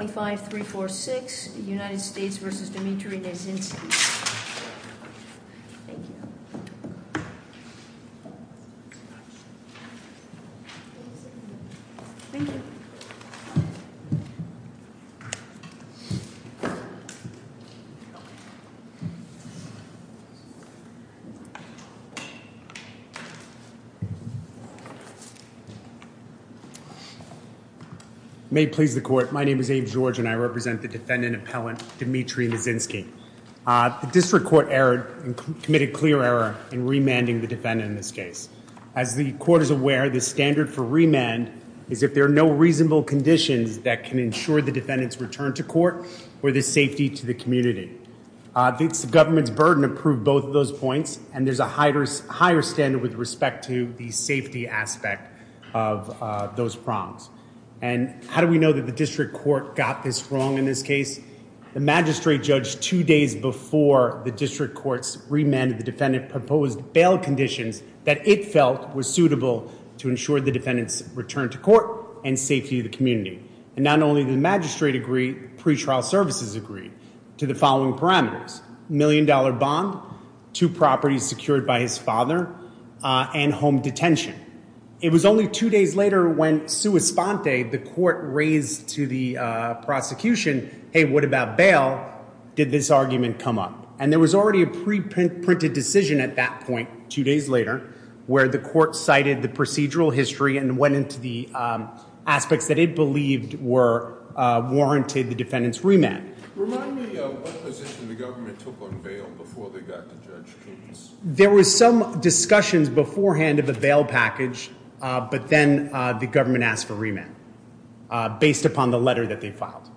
Thank you May it please the court, my name is Abe George and I represent the defendant appellant Dimitri Nezhinskiy. The district court erred and committed clear error in remanding the defendant in this case. As the court is aware the standard for remand is if there are no reasonable conditions that can ensure the defendant's return to court or the safety to the community. The government's burden approved both of those points and there's a higher standard with respect to the safety aspect of those prongs. And how do we know that the district court got this wrong in this case? The magistrate judged two days before the district courts remanded the defendant proposed bail conditions that it felt was suitable to ensure the defendant's return to court and safety to the community. And not only the magistrate agreed, pretrial services agreed to the following parameters. Million dollar bond, two properties secured by his father, and home detention. It was only two days later when sua sponte, the court raised to the prosecution, hey what about bail? Did this argument come up? And there was already a pre-printed decision at that point, two days later, where the court cited the procedural history and went into the aspects that it believed were warranted the defendant's remand. Remind me of what position the government took on bail before they got to Judge King's? There was some discussions beforehand of a bail package, but then the government asked for remand based upon the letter that they filed.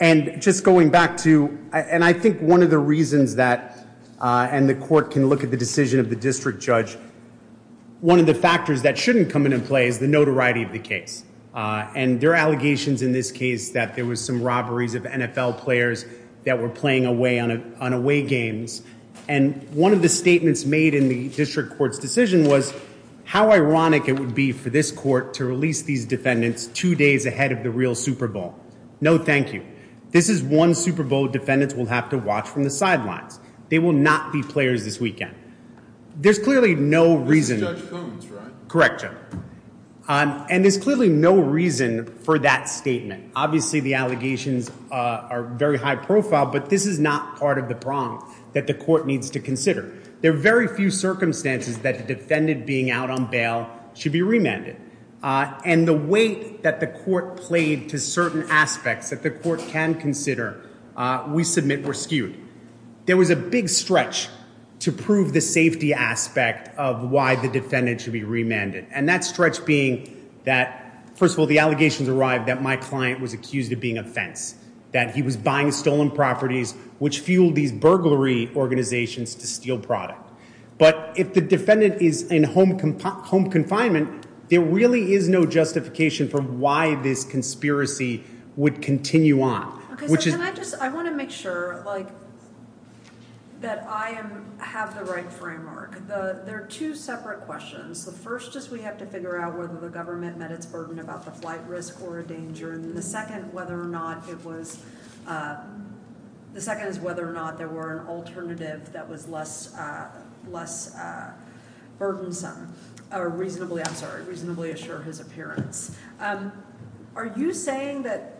And just going back to, and I think one of the reasons that, and the court can look at the decision of the district judge, one of the factors that shouldn't come into play is the notoriety of the case. And there were allegations in this case that there was some robberies of NFL players that were playing away on away games. And one of the statements made in the district court's decision was how ironic it would be for this court to release these defendants two days ahead of the real Super Bowl. No thank you. This is one Super Bowl defendants will have to watch from the sidelines. They will not be players this weekend. There's clearly no reason. Correct. And there's clearly no reason for that statement. Obviously the allegations are very high profile, but this is not part of the prong that the court needs to consider. There are very few circumstances that the defendant being out on bail should be remanded. And the weight that the court played to certain aspects that the court can consider, we submit were skewed. There was a big stretch to prove the safety aspect of why the defendant should be remanded. And that stretch being that, first of all, the allegations arrived that my client was accused of being a fence, that he was buying stolen properties, which fueled these burglary organizations to steal product. But if the defendant is in home, home confinement, there really is no justification for why this conspiracy would continue on. I want to make sure that I have the right framework. There are two separate questions. The first is we have to figure out whether the government met its burden about the flight risk or a danger. And the second is whether or not there were an alternative that was less burdensome, or reasonably, I'm sorry, reasonably assure his appearance. Are you saying that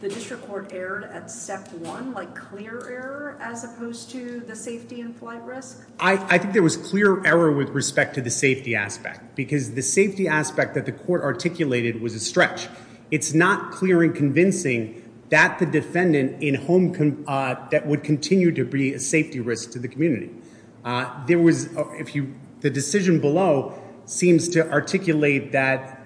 the district court erred at step one, like clear error, as opposed to the safety and flight risk? I think there was clear error with respect to the safety aspect, because the safety aspect that the court articulated was a stretch. It's not clear and convincing that the defendant in home that would continue to be a safety risk to the community. There was, if you, the decision below seems to articulate that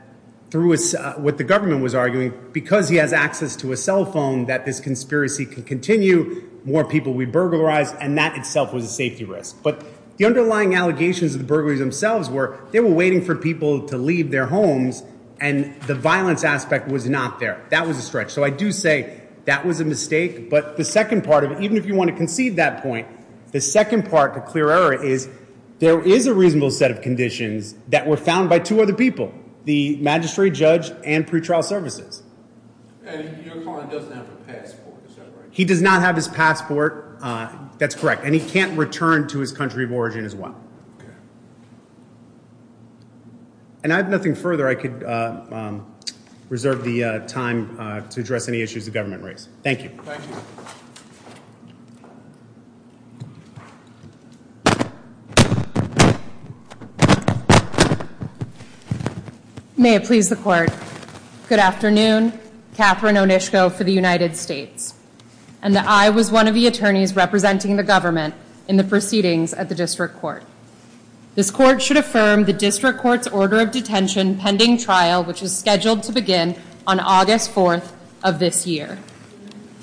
through what the government was arguing, because he has access to a cell phone, that this conspiracy can continue, more people would be burglarized, and that itself was a safety risk. But the underlying allegations of the burglaries themselves were they were waiting for people to leave their homes, and the violence aspect was not there. That was a stretch. So I do say that was a mistake. But the second part of it, if you want to concede that point, the second part to clear error is there is a reasonable set of conditions that were found by two other people, the magistrate judge and pretrial services. And your client doesn't have a passport, is that right? He does not have his passport. That's correct. And he can't return to his country of origin as well. And I have nothing further. I could reserve the time to address any issues the government raised. Thank you. Thank you. May it please the court. Good afternoon, Catherine Onishko for the United States. And I was one of the attorneys representing the government in the proceedings at the district court. This court should affirm the district court's order of detention pending trial, which is scheduled to begin on August 4th of this year.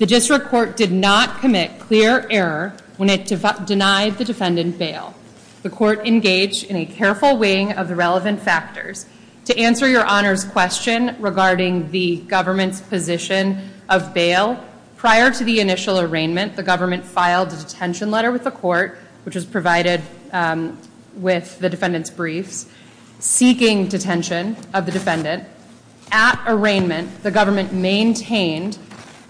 The district court did not commit clear error when it denied the defendant bail. The court engaged in a careful weighing of the relevant factors. To answer your honor's question regarding the government's position of bail, prior to the initial arraignment, the government filed a detention letter with the court, which was provided with the defendant's briefs, seeking detention of the defendant. At arraignment, the government maintained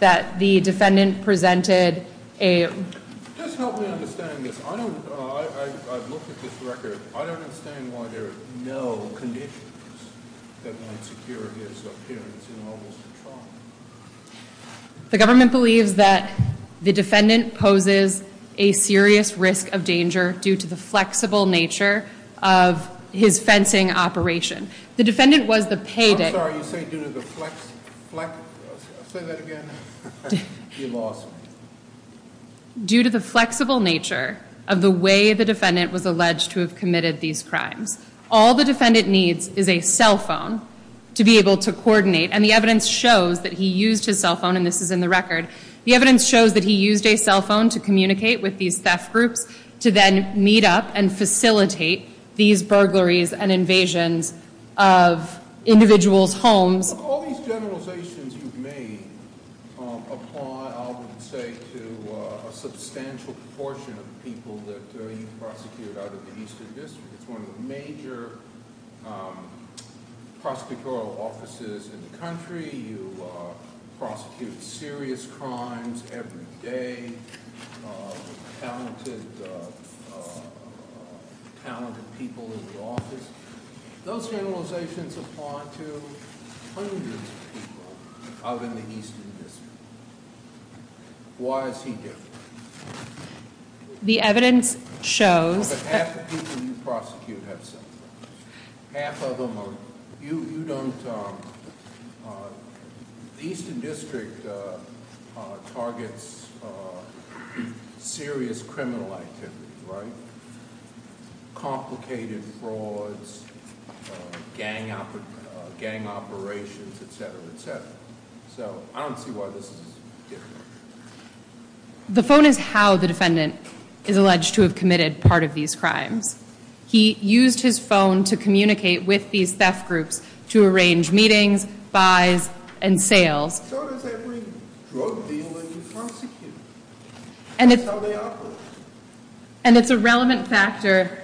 that the defendant presented a... Just help me understand this. I've looked at this record. I don't understand why there are no conditions that might secure his appearance in August of trial. The government believes that the defendant poses a serious risk of danger due to the flexible nature of his fencing operation. The defendant was the payday... I'm sorry, you say due to the flex... Say that again. You lost. Due to the flexible nature of the way the defendant was alleged to have committed these crimes. All the defendant needs is a cell phone to be able to coordinate, and the evidence shows that he used his cell phone, and this is in the record. The evidence shows that he used a cell phone to communicate with these theft groups to then meet up and facilitate these burglaries and invasions of individuals' homes. All these generalizations you've made apply, I would say, to a substantial proportion of people that you prosecuted out of the country. You prosecute serious crimes every day, talented people in the office. Those generalizations apply to hundreds of people out in the Eastern District. Why is he different? The evidence shows... Half the people you prosecute have cell phones. Half of them are... You don't... The Eastern District targets serious criminal activity, right? Complicated frauds, gang operations, etc., etc. So I don't see why this is different. The phone is how the defendant is alleged to have committed part of these crimes. He used his phone to communicate with these theft groups to arrange meetings, buys, and sales. So does every drug dealing prosecutor. That's how they operate. And it's a relevant factor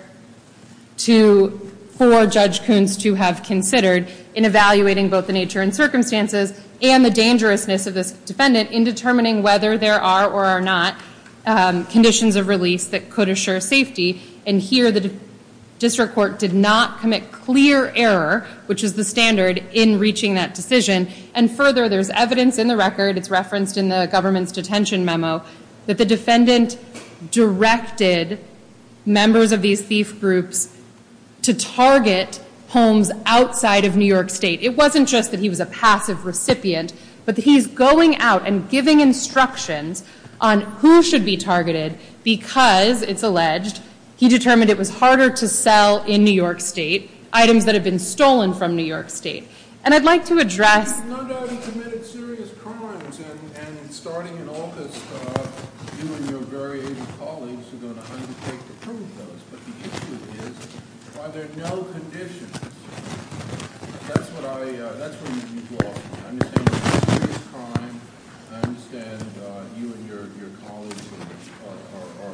for Judge Koons to have considered in evaluating both the nature and circumstances and the dangerousness of this defendant in determining whether there are or are conditions of release that could assure safety. And here the district court did not commit clear error, which is the standard in reaching that decision. And further, there's evidence in the record, it's referenced in the government's detention memo, that the defendant directed members of these thief groups to target homes outside of New York State. It wasn't just that he was a passive recipient, but he's going out and giving instructions on who should be targeted because, it's alleged, he determined it was harder to sell in New York State items that have been stolen from New York State. And I'd like to address... No doubt he committed serious crimes, and starting in August, you and your very aided colleagues are going to undertake to prove those. But the issue is, are there no conditions? That's what I, that's where you'd be lost. I understand it's a serious crime. I understand you and your colleagues are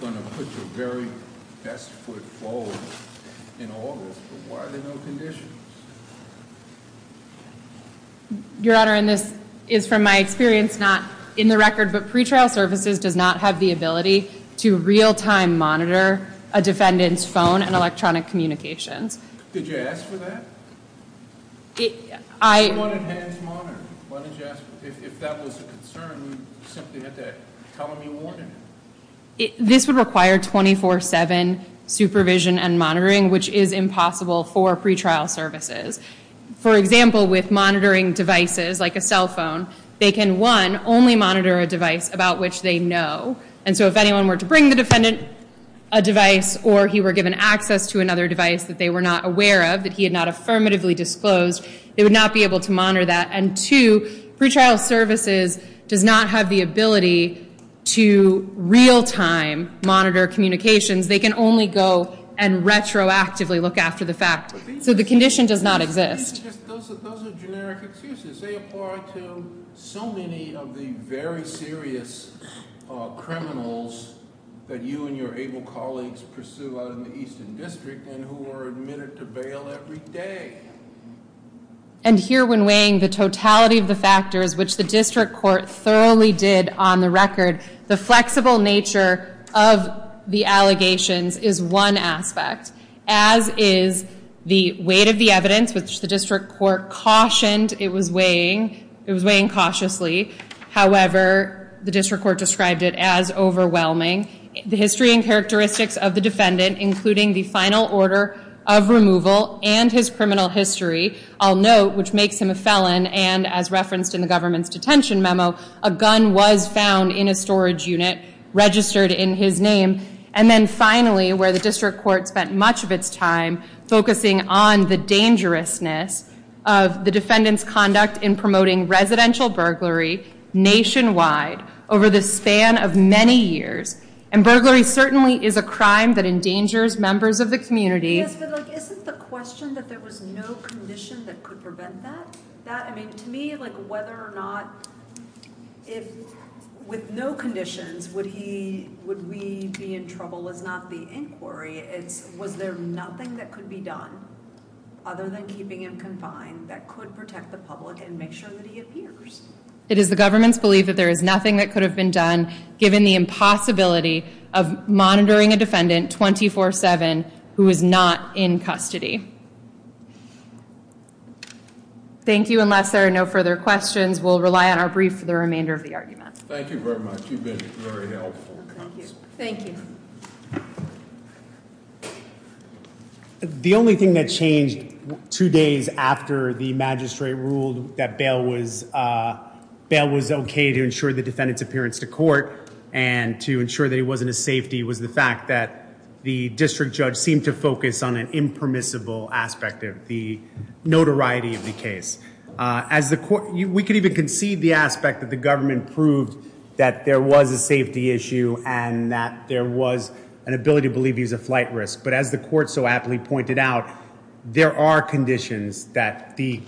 going to put your very best foot forward in August, but why are there no conditions? Your Honor, and this is from my experience, not in the record, but pretrial services does not have the ability to real-time monitor a defendant's phone and electronic communications. Did you ask for that? I... Why didn't you ask for that? If that was a concern, you simply had to tell him you wanted it. This would require 24-7 supervision and monitoring, which is impossible for pretrial services. For example, with monitoring devices like a cell phone, they can, one, only monitor a device about which they know. And so if anyone were to bring the defendant a device, or he were given access to another device that they were not aware of, that he had not affirmatively disclosed, they would not be able to monitor that. And two, pretrial services does not have the ability to real-time monitor communications. They can only go and retroactively look after the fact. So the condition does not exist. Those are generic excuses. They apply to so many of the very serious criminals that you and your able colleagues pursue out in the Eastern District and who are admitted to bail every day. And here, when weighing the totality of the factors, which the district court thoroughly did on the record, the flexible nature of the allegations is one aspect, as is the weight of the evidence, which the district court cautioned it was weighing. It was weighing cautiously. However, the district court described it as overwhelming. The history and characteristics of the defendant, including the final order of removal and his criminal history, I'll note, which makes him a felon. And as referenced in the government's detention memo, a gun was found in a storage unit registered in his name. And then finally, where the district court spent much of its time focusing on the dangerousness of the defendant's conduct in promoting residential burglary nationwide over the span of many years. And burglary certainly is a crime that endangers members of the community. Yes, but like, isn't the question that there was no condition that could prevent that? That, I mean, to me, like whether or not, if with no conditions, would he, would we be in trouble is not the inquiry. It's was there nothing that could be done other than keeping him confined that could protect the public and make sure that he appears? It is the government's belief that there is nothing that could have been done given the possibility of monitoring a defendant 24-7 who is not in custody. Thank you. Unless there are no further questions, we'll rely on our brief for the remainder of the argument. Thank you very much. You've been very helpful. Thank you. The only thing that changed two days after the magistrate ruled that bail was, bail was okay to ensure the defendant's appearance to court and to ensure that it wasn't a safety, was the fact that the district judge seemed to focus on an impermissible aspect of the notoriety of the case. As the court, we could even concede the aspect that the government proved that there was a safety issue and that there was an ability to believe he's a flight risk. But as the court aptly pointed out, there are conditions that the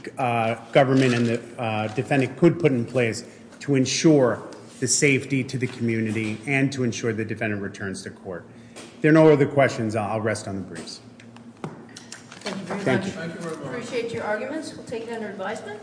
government and the defendant could put in place to ensure the safety to the community and to ensure the defendant returns to court. There are no other questions. I'll rest on the briefs. Thank you very much. Appreciate your arguments. We'll take it under advisement.